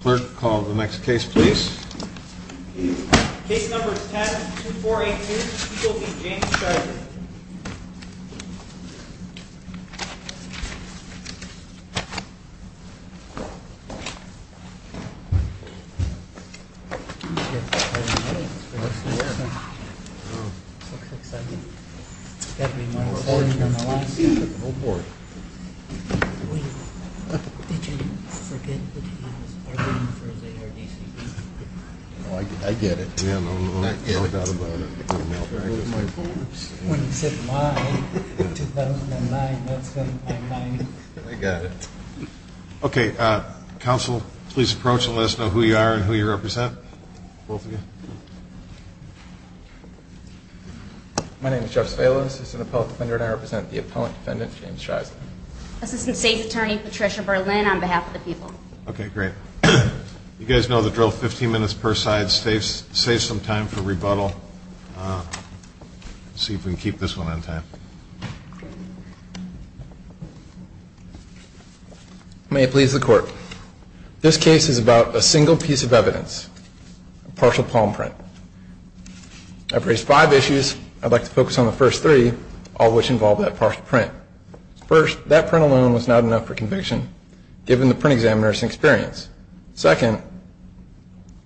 Clerk, call the next case please. Case number 10-2482, people be James Schuyler. Okay, counsel, please approach and let us know who you are and who you represent. Both of you. My name is Jeff Spalos. I'm an appellate defender and I represent the appellant defendant James Schuyler. Assistant State's Attorney Patricia Berlin on behalf of the people. Okay, great. You guys know the drill, 15 minutes per side saves some time for rebuttal. Let's see if we can keep this one on time. May it please the court. This case is about a single piece of evidence, partial palm print. I've raised five issues. I'd like to focus on the first three, all of which involve that partial print. First, that print alone was not enough for conviction, given the print examiner's experience. Second,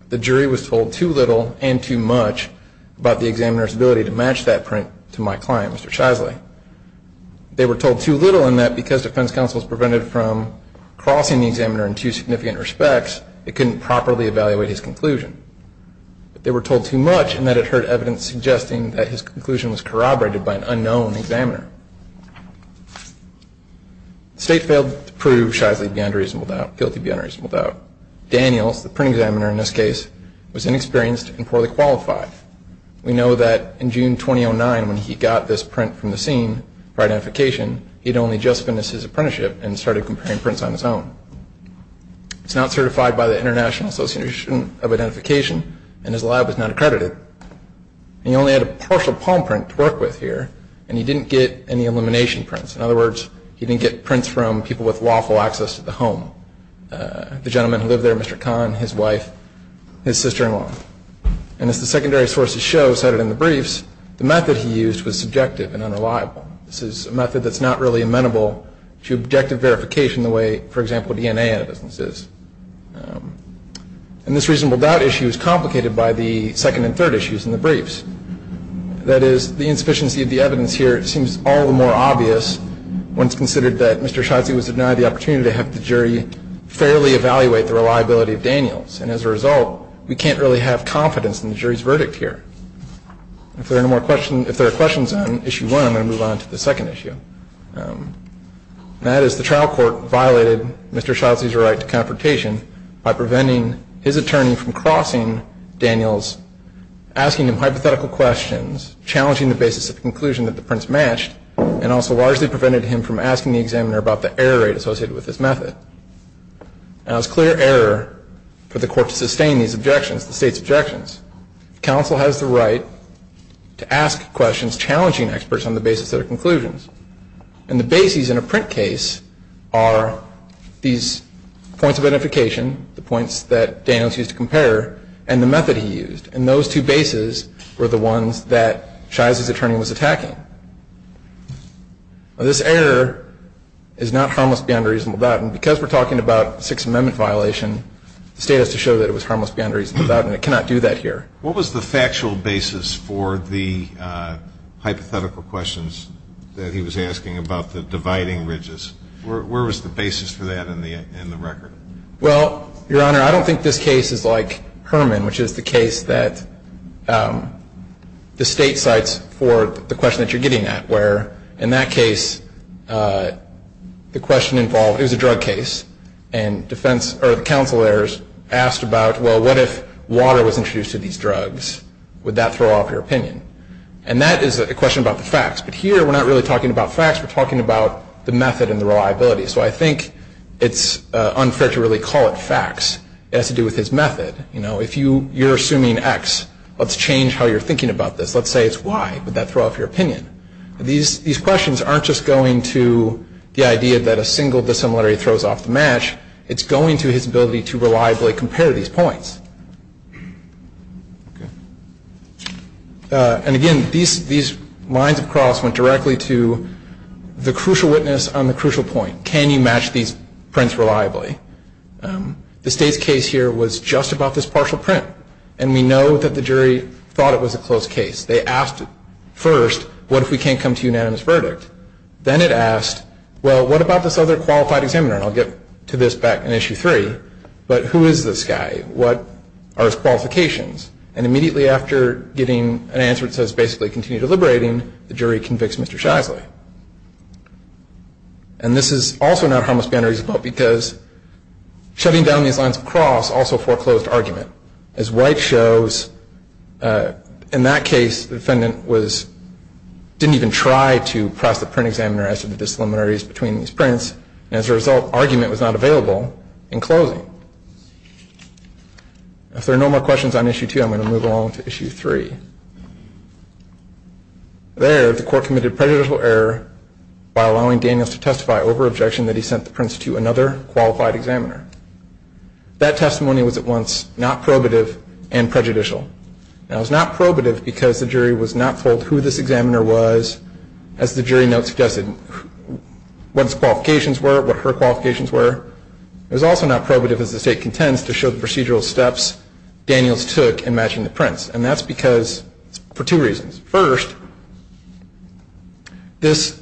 the jury was told too little and too much about the examiner's ability to match that print to my client, Mr. Schuyler. They were told too little in that because defense counsel was prevented from crossing the examiner in two significant respects, they couldn't properly evaluate his conclusion. They were told too much in that it hurt evidence suggesting that his jury failed to prove Schuyler's guilty beyond reasonable doubt. Daniels, the print examiner in this case, was inexperienced and poorly qualified. We know that in June 2009 when he got this print from the scene for identification, he'd only just finished his apprenticeship and started comparing prints on his own. He's not certified by the International Association of Identification and his lab was not accredited. He only had a partial palm print to work with here and he didn't get any elimination prints. In other words, he didn't get prints from people with lawful access to the home. The gentleman who lived there, Mr. Kahn, his wife, his sister-in-law. And as the secondary sources show cited in the briefs, the method he used was subjective and unreliable. This is a method that's not really amenable to objective verification the way, for example, DNA analysis is. And this reasonable doubt issue is one of the reasons that Daniels was denied the opportunity to have the jury fairly evaluate the reliability of Daniels. And as a result, we can't really have confidence in the jury's verdict here. If there are no more questions, if there are questions on issue one, I'm going to move on to the second issue. And that is the trial court violated Mr. Schuyler's right to confrontation by preventing his attorney from crossing Daniels, asking him hypothetical questions, challenging the basis of the conclusion that the prints matched, and also largely prevented him from asking the examiner about the error rate associated with this method. Now, it's clear error for the court to sustain these objections, the State's objections. Counsel has the right to ask questions challenging experts on the basis of their conclusions. And the bases in a method he used, and those two bases were the ones that Schuyler's attorney was attacking. Now, this error is not harmless beyond a reasonable doubt. And because we're talking about a Sixth Amendment violation, the State has to show that it was harmless beyond a reasonable doubt, and it cannot do that here. What was the factual basis for the hypothetical questions that he was asking about the dividing ridges? Where was the basis for that in the record? Well, Your Honor, I don't think this case is like Herman, which is the case that the State cites for the question that you're getting at, where, in that case, the question involved, it was a drug case, and defense, or the counsel there asked about, well, what if water was introduced to these drugs? Would that throw off your opinion? And that is a question about the facts. But here, we're not really talking about facts. We're talking about the method and the reliability. So I think it's unfair to really call it facts. It has to do with his method. You know, if you're assuming X, let's change how you're thinking about this. Let's say it's Y. Would that throw off your opinion? These questions aren't just going to the idea that a single dissimilarity throws off the match. It's going to his ability to reliably compare these points. And again, these lines of cross went directly to the crucial witness on the crucial point. Can you match these prints reliably? The State's case here was just about this partial print. And we know that the jury thought it was a close case. They asked first, what if we can't come to a unanimous verdict? Then it asked, well, what about this other qualified examiner? And I'll get to this back in Issue 3. But who is this guy? What are his qualifications? And immediately after getting an answer that says, basically, continue deliberating, the jury convicts Mr. Shasley. And this is also not a harmless ban or easy vote, because shutting down these lines of cross also foreclosed argument. As White shows, in that case, the defendant didn't even try to press the print examiner as to the dissimilarities between these prints. And as a result, argument was not available in closing. If there are no more questions on Issue 2, I'm going to move along to Issue 3. There, the court committed prejudicial error by allowing Daniels to testify over objection that he sent the prints to another qualified examiner. That testimony was at once not probative and prejudicial. It was not probative because the jury was not told who this examiner was, as the jury note suggested, what his qualifications were, what her qualifications were. It was also not probative, as the State contends, to show the procedural steps Daniels took in matching the prints. And that's because, for two reasons. First, this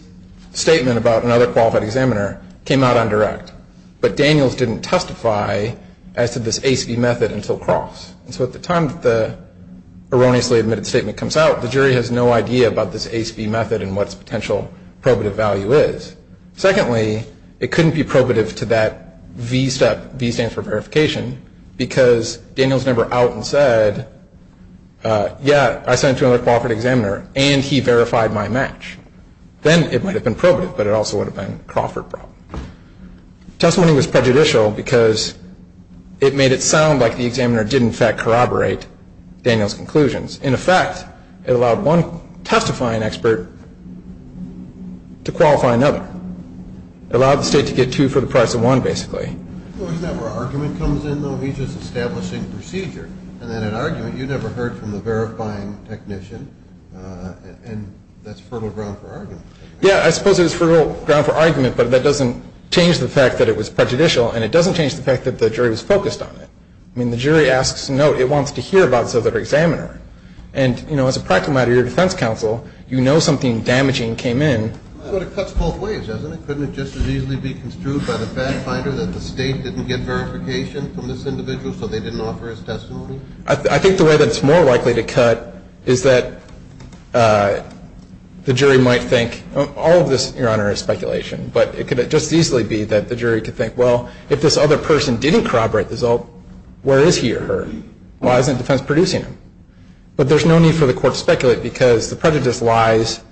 statement about another qualified examiner came out on direct. But Daniels didn't testify as to this ACB method until cross. And so at the time that the erroneously admitted statement comes out, the jury has no idea about this ACB method and what its potential probative value is. Secondly, it couldn't be probative to that V step, V stands for verification, because Daniels never out and said, yeah, I sent it to another qualified examiner and he verified my match. Then it might have been probative, but it also would have been a Crawford problem. Testimony was prejudicial because it made it sound like the examiner did in fact corroborate Daniels' conclusions. In effect, it allowed one testifying expert to qualify another. It allowed the State to get two for the price of one, basically. Well, isn't that where argument comes in, though? He's just establishing procedure. And then in argument, you never heard from the verifying technician, and that's fertile ground for argument. Yeah, I suppose it is fertile ground for argument, but that doesn't change the fact that it was prejudicial, and it doesn't change the fact that the jury was focused on it. I mean, the jury asks to know. It wants to hear about this other examiner. And, you know, as a practical matter, your defense counsel, you know something damaging came in. But it cuts both ways, doesn't it? Couldn't it just as easily be construed by the fact finder that the State didn't get verification from this individual, so they didn't offer his testimony? I think the way that it's more likely to cut is that the jury might think all of this, Your Honor, is speculation. But it could just as easily be that the jury could think, well, if this other person didn't corroborate the result, where is he or her? Why isn't defense producing him? But there's no need for the court to speculate because the prejudice lies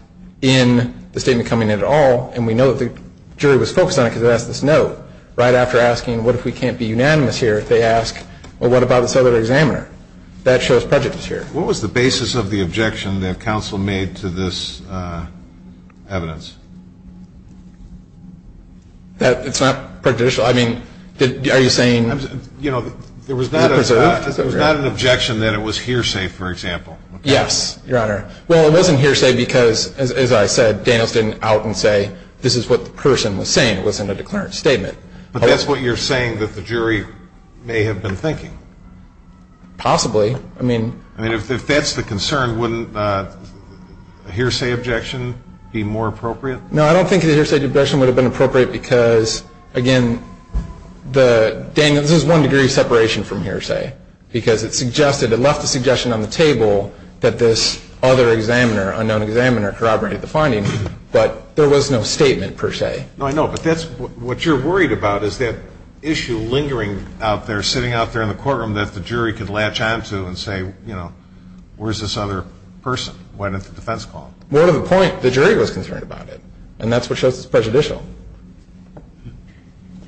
in the statement coming in at all, and we know that the jury was focused on it because they asked this note. Right after asking what if we can't be unanimous here, they ask, well, what about this other examiner? That shows prejudice here. What was the basis of the objection that counsel made to this evidence? It's not prejudicial. I mean, are you saying it was preserved? It was not an objection that it was hearsay, for example. Yes, Your Honor. Well, it wasn't hearsay because, as I said, Daniels didn't out and say, this is what the person was saying. It wasn't a declarant statement. But that's what you're saying that the jury may have been thinking. Possibly. I mean... I mean, if that's the concern, wouldn't a hearsay objection be more appropriate? No, I don't think a hearsay objection would have been appropriate because, again, the... I mean, this is one degree of separation from hearsay because it suggested, it left the suggestion on the table that this other examiner, unknown examiner, corroborated the finding, but there was no statement per se. No, I know, but that's what you're worried about is that issue lingering out there, sitting out there in the courtroom that the jury could latch on to and say, you know, where's this other person? Why didn't the defense call? More to the point, the jury was concerned about it, and that's what shows it's prejudicial.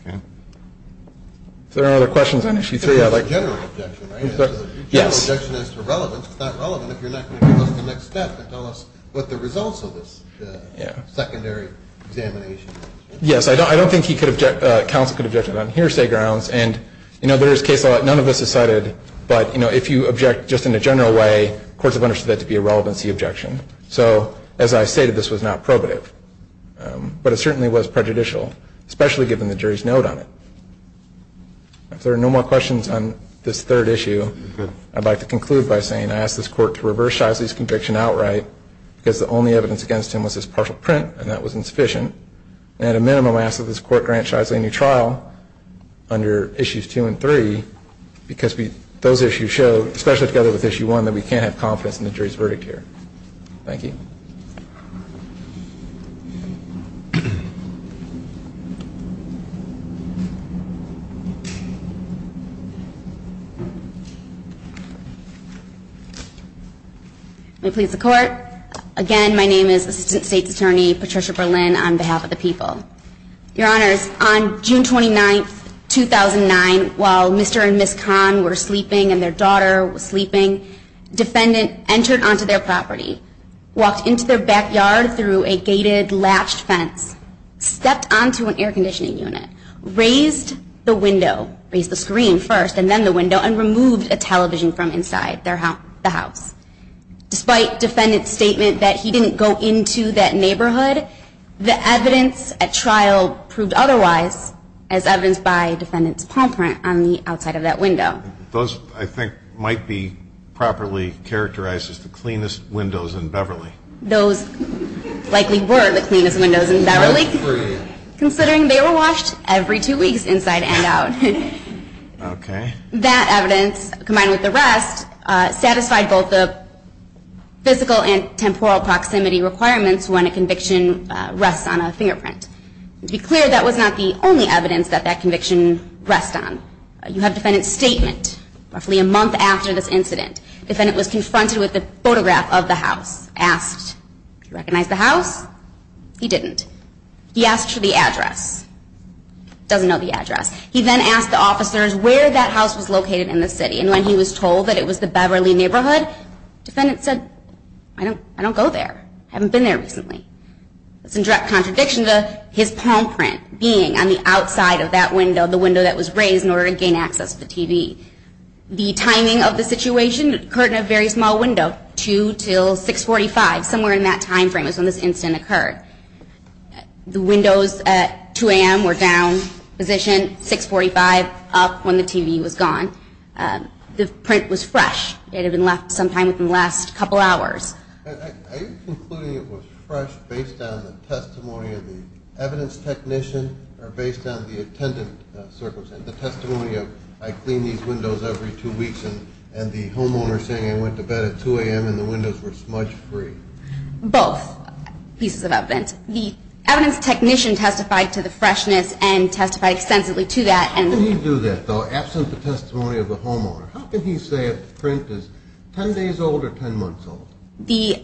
Okay. Is there any other questions on Issue 3? It's a general objection, right? Yes. It's a general objection as to relevance. It's not relevant if you're not going to give us the next step and tell us what the results of this secondary examination... Yes, I don't think he could object... Counsel could object on hearsay grounds, and, you know, there is case law that none of us has cited, but, you know, if you object just in a general way, courts have understood that to be a relevancy objection. So, as I stated, this was not probative. But it certainly was prejudicial, especially given the jury's note on it. If there are no more questions on this third issue, I'd like to conclude by saying I ask this Court to reverse Shisley's conviction outright because the only evidence against him was his partial print, and that was insufficient. And at a minimum, I ask that this Court grant Shisley a new trial under Issues 2 and 3 because those issues show, especially together with Issue 1, that we can't have confidence in the jury's verdict here. Thank you. May it please the Court. Again, my name is Assistant State's Attorney Patricia Berlin on behalf of the people. Your Honors, on June 29, 2009, while Mr. and Ms. Kahn were sleeping and their daughter was sleeping, defendant entered onto their property, walked into their backyard through a gated, latched fence, stepped onto an air conditioning unit, raised the window, raised the screen first, and then the window, and removed a television from inside the house. Despite defendant's statement that he didn't go into that neighborhood, the evidence at trial proved otherwise as evidenced by defendant's palm print on the outside of that window. Those, I think, might be properly characterized as the cleanest windows in Beverly. Those likely were the cleanest windows in Beverly, considering they were washed every two weeks inside and out. Okay. That evidence, combined with the rest, satisfied both the physical and temporal proximity requirements when a conviction rests on a fingerprint. To be clear, that was not the only evidence that that conviction rests on. You have defendant's statement roughly a month after this incident. Defendant was confronted with a photograph of the house, asked, do you recognize the house? He didn't. He asked for the address. Doesn't know the address. He then asked the officers where that house was located in the city, and when he was told that it was the Beverly neighborhood, defendant said, I don't go there. I haven't been there recently. That's in direct contradiction to his palm print being on the outside of that window, the window that was raised in order to gain access to the TV. The timing of the situation occurred in a very small window, 2 till 645, somewhere in that time frame is when this incident occurred. The windows at 2 a.m. were down position, 645 up when the TV was gone. The print was fresh. It had been left sometime within the last couple hours. Are you concluding it was fresh based on the testimony of the evidence technician or based on the attendant circumstance, the testimony of I clean these windows every two weeks and the homeowner saying I went to bed at 2 a.m. and the windows were smudge free? Both pieces of evidence. The evidence technician testified to the freshness and testified extensively to that. How can he do that, though, absent the testimony of the homeowner? How can he say a print is 10 days old or 10 months old? The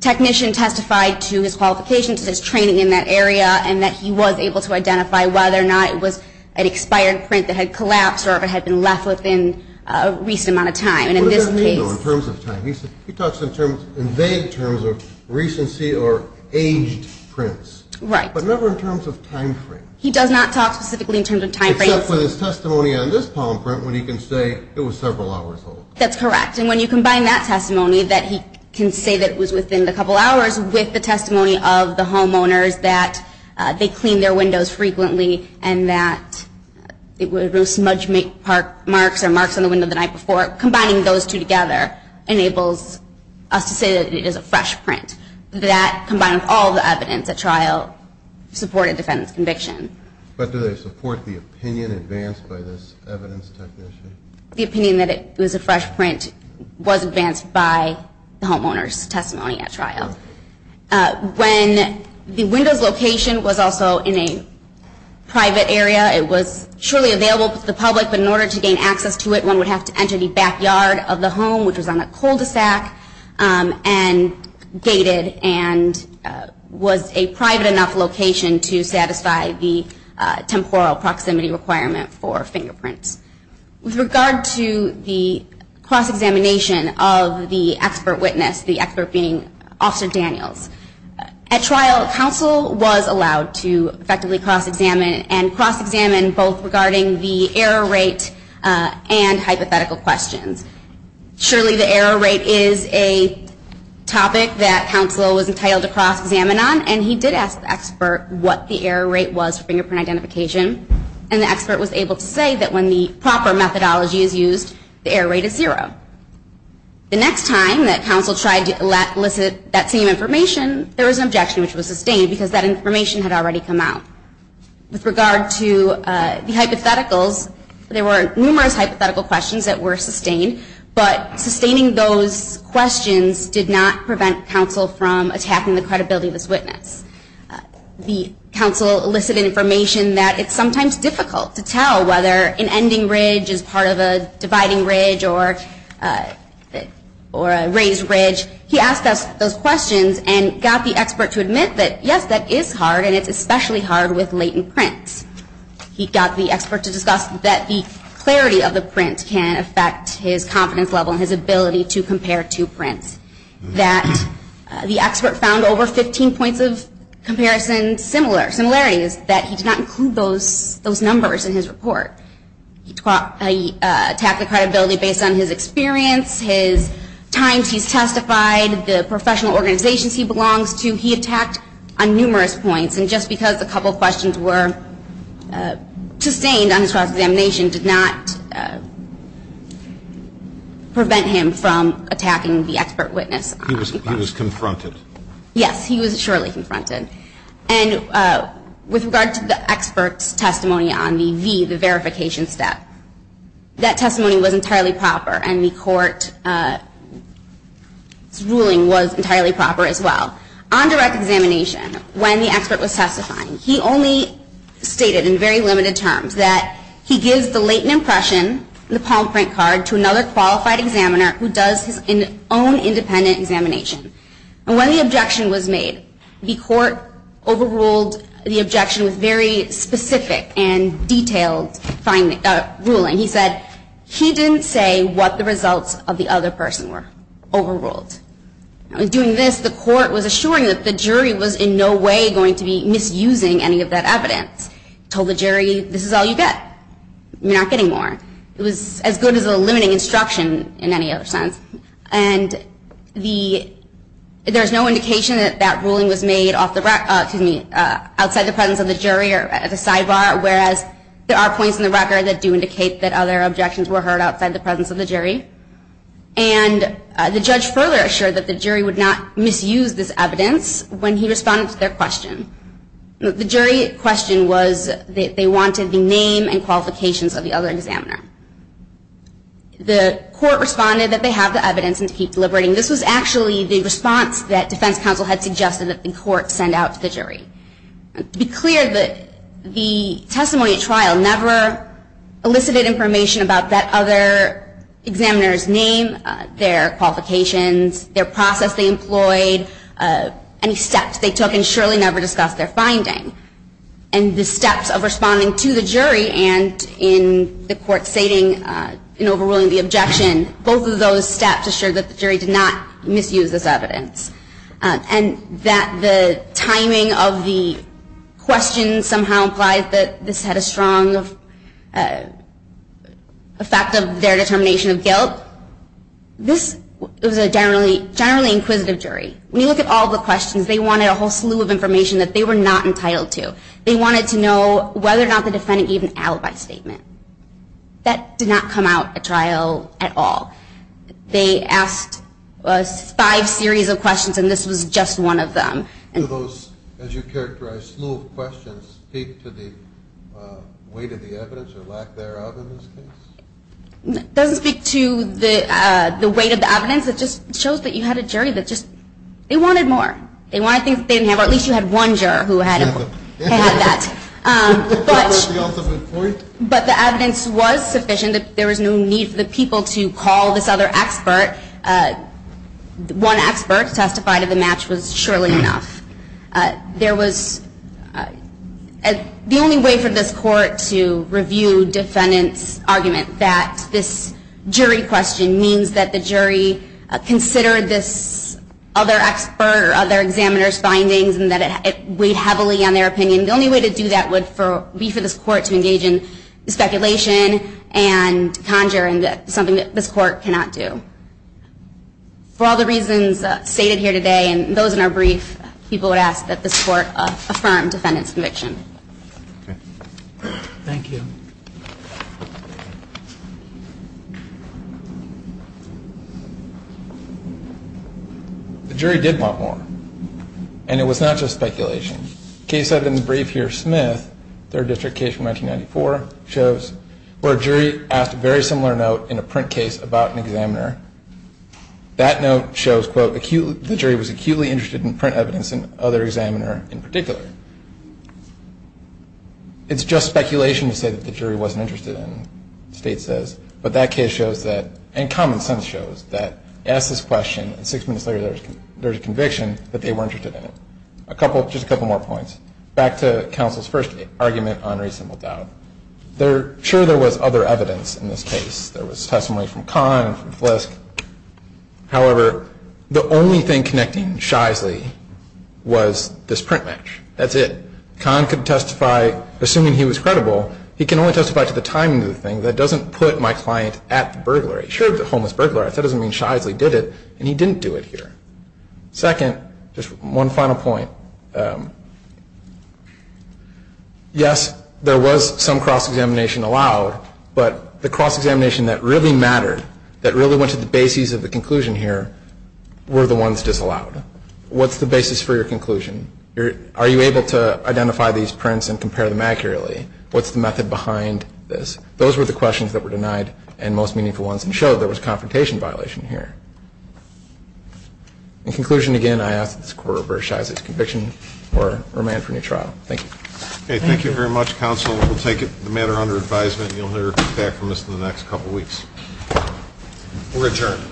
technician testified to his qualifications, his training in that area, and that he was able to identify whether or not it was an expired print that had collapsed or if it had been left within a recent amount of time. What does that mean, though, in terms of time? He talks in vague terms of recency or aged prints. Right. But never in terms of time frame. He does not talk specifically in terms of time frame. Except for his testimony on this palm print when he can say it was several hours old. That's correct. And when you combine that testimony that he can say that it was within a couple hours with the testimony of the homeowners that they cleaned their windows frequently and that there were smudge marks or marks on the window the night before, combining those two together enables us to say that it is a fresh print. But do they support the opinion advanced by this evidence technician? The opinion that it was a fresh print was advanced by the homeowners' testimony at trial. When the window's location was also in a private area, it was surely available to the public, but in order to gain access to it, one would have to enter the backyard of the home, which was on a cul-de-sac, and gated and was a private enough location to satisfy the temporal proximity requirement for fingerprints. With regard to the cross-examination of the expert witness, the expert being Officer Daniels, at trial counsel was allowed to effectively cross-examine and cross-examine both regarding the error rate and hypothetical questions. Surely the error rate is a topic that counsel was entitled to cross-examine on, and he did ask the expert what the error rate was for fingerprint identification, and the expert was able to say that when the proper methodology is used, the error rate is zero. The next time that counsel tried to elicit that same information, there was an objection which was sustained because that information had already come out. With regard to the hypotheticals, there were numerous hypothetical questions that were sustained, but sustaining those questions did not prevent counsel from attacking the credibility of this witness. The counsel elicited information that it's sometimes difficult to tell whether an ending ridge is part of a dividing ridge or a raised ridge. He asked those questions and got the expert to admit that, yes, that is hard, and it's especially hard with latent prints. He got the expert to discuss that the clarity of the print can affect his confidence level and his ability to compare two prints, that the expert found over 15 points of comparison similarities, that he did not include those numbers in his report. He attacked the credibility based on his experience, his times he's testified, the professional organizations he belongs to. He attacked on numerous points. And just because a couple questions were sustained on his cross-examination did not prevent him from attacking the expert witness. He was confronted. Yes, he was surely confronted. And with regard to the expert's testimony on the V, the verification step, that testimony was entirely proper and the court's ruling was entirely proper as well. On direct examination, when the expert was testifying, he only stated in very limited terms that he gives the latent impression in the palm print card to another qualified examiner who does his own independent examination. And when the objection was made, the court overruled the objection with very specific and detailed ruling. He said he didn't say what the results of the other person were. Overruled. In doing this, the court was assuring that the jury was in no way going to be misusing any of that evidence. Told the jury, this is all you get. You're not getting more. It was as good as a limiting instruction in any other sense. And there's no indication that that ruling was made outside the presence of the jury or at a sidebar, whereas there are points in the record that do indicate that other objections were heard outside the presence of the jury. And the judge further assured that the jury would not misuse this evidence when he responded to their question. The jury question was that they wanted the name and qualifications of the other examiner. The court responded that they have the evidence and to keep deliberating. This was actually the response that defense counsel had suggested that the court send out to the jury. To be clear, the testimony at trial never elicited information about that other examiner's name, their qualifications, their process they employed, any steps they took, and surely never discussed their finding. And the steps of responding to the jury and in the court stating and overruling the objection, both of those steps assured that the jury did not misuse this evidence. And that the timing of the question somehow implied that this had a strong effect of their determination of guilt. This was a generally inquisitive jury. When you look at all the questions, they wanted a whole slew of information that they were not entitled to. They wanted to know whether or not the defendant gave an alibi statement. That did not come out at trial at all. They asked five series of questions, and this was just one of them. Do those, as you characterized, slew of questions speak to the weight of the evidence or lack thereof in this case? It doesn't speak to the weight of the evidence. It just shows that you had a jury that just, they wanted more. They wanted things they didn't have, or at least you had one juror who had that. But the evidence was sufficient. There was no need for the people to call this other expert. One expert testified that the match was surely enough. There was the only way for this court to review defendant's argument that this jury question means that the jury considered this other expert or other examiner's findings and that it weighed heavily on their opinion. The only way to do that would be for this court to engage in speculation and conjure something that this court cannot do. For all the reasons stated here today and those in our brief, people would ask that this court affirm defendant's conviction. Thank you. The jury did want more, and it was not just speculation. The case cited in the brief here, Smith, third district case from 1994, shows where a jury asked a very similar note in a print case about an examiner. That note shows, quote, the jury was acutely interested in print evidence and other examiner in particular. It's just speculation to say that the jury wasn't interested in, the state says. But that case shows that, and common sense shows that, ask this question, and six minutes later there's a conviction that they were interested in it. Just a couple more points. Back to counsel's first argument on reasonable doubt. Sure, there was other evidence in this case. There was testimony from Kahn and from Flisk. However, the only thing connecting Shisely was this print match. That's it. Kahn could testify, assuming he was credible, he can only testify to the timing of the thing. That doesn't put my client at the burglary. Sure, the homeless burglar, that doesn't mean Shisely did it, and he didn't do it here. Second, just one final point. Yes, there was some cross-examination allowed, but the cross-examination that really mattered, that really went to the basis of the conclusion here, were the ones disallowed. What's the basis for your conclusion? Are you able to identify these prints and compare them accurately? What's the method behind this? Those were the questions that were denied, and most meaningful ones, and it doesn't show there was a confrontation violation here. In conclusion, again, I ask that this Court reverse Shisely's conviction or remand for new trial. Thank you. Okay, thank you very much, Counsel. We'll take the matter under advisement, and you'll hear back from us in the next couple weeks. We're adjourned.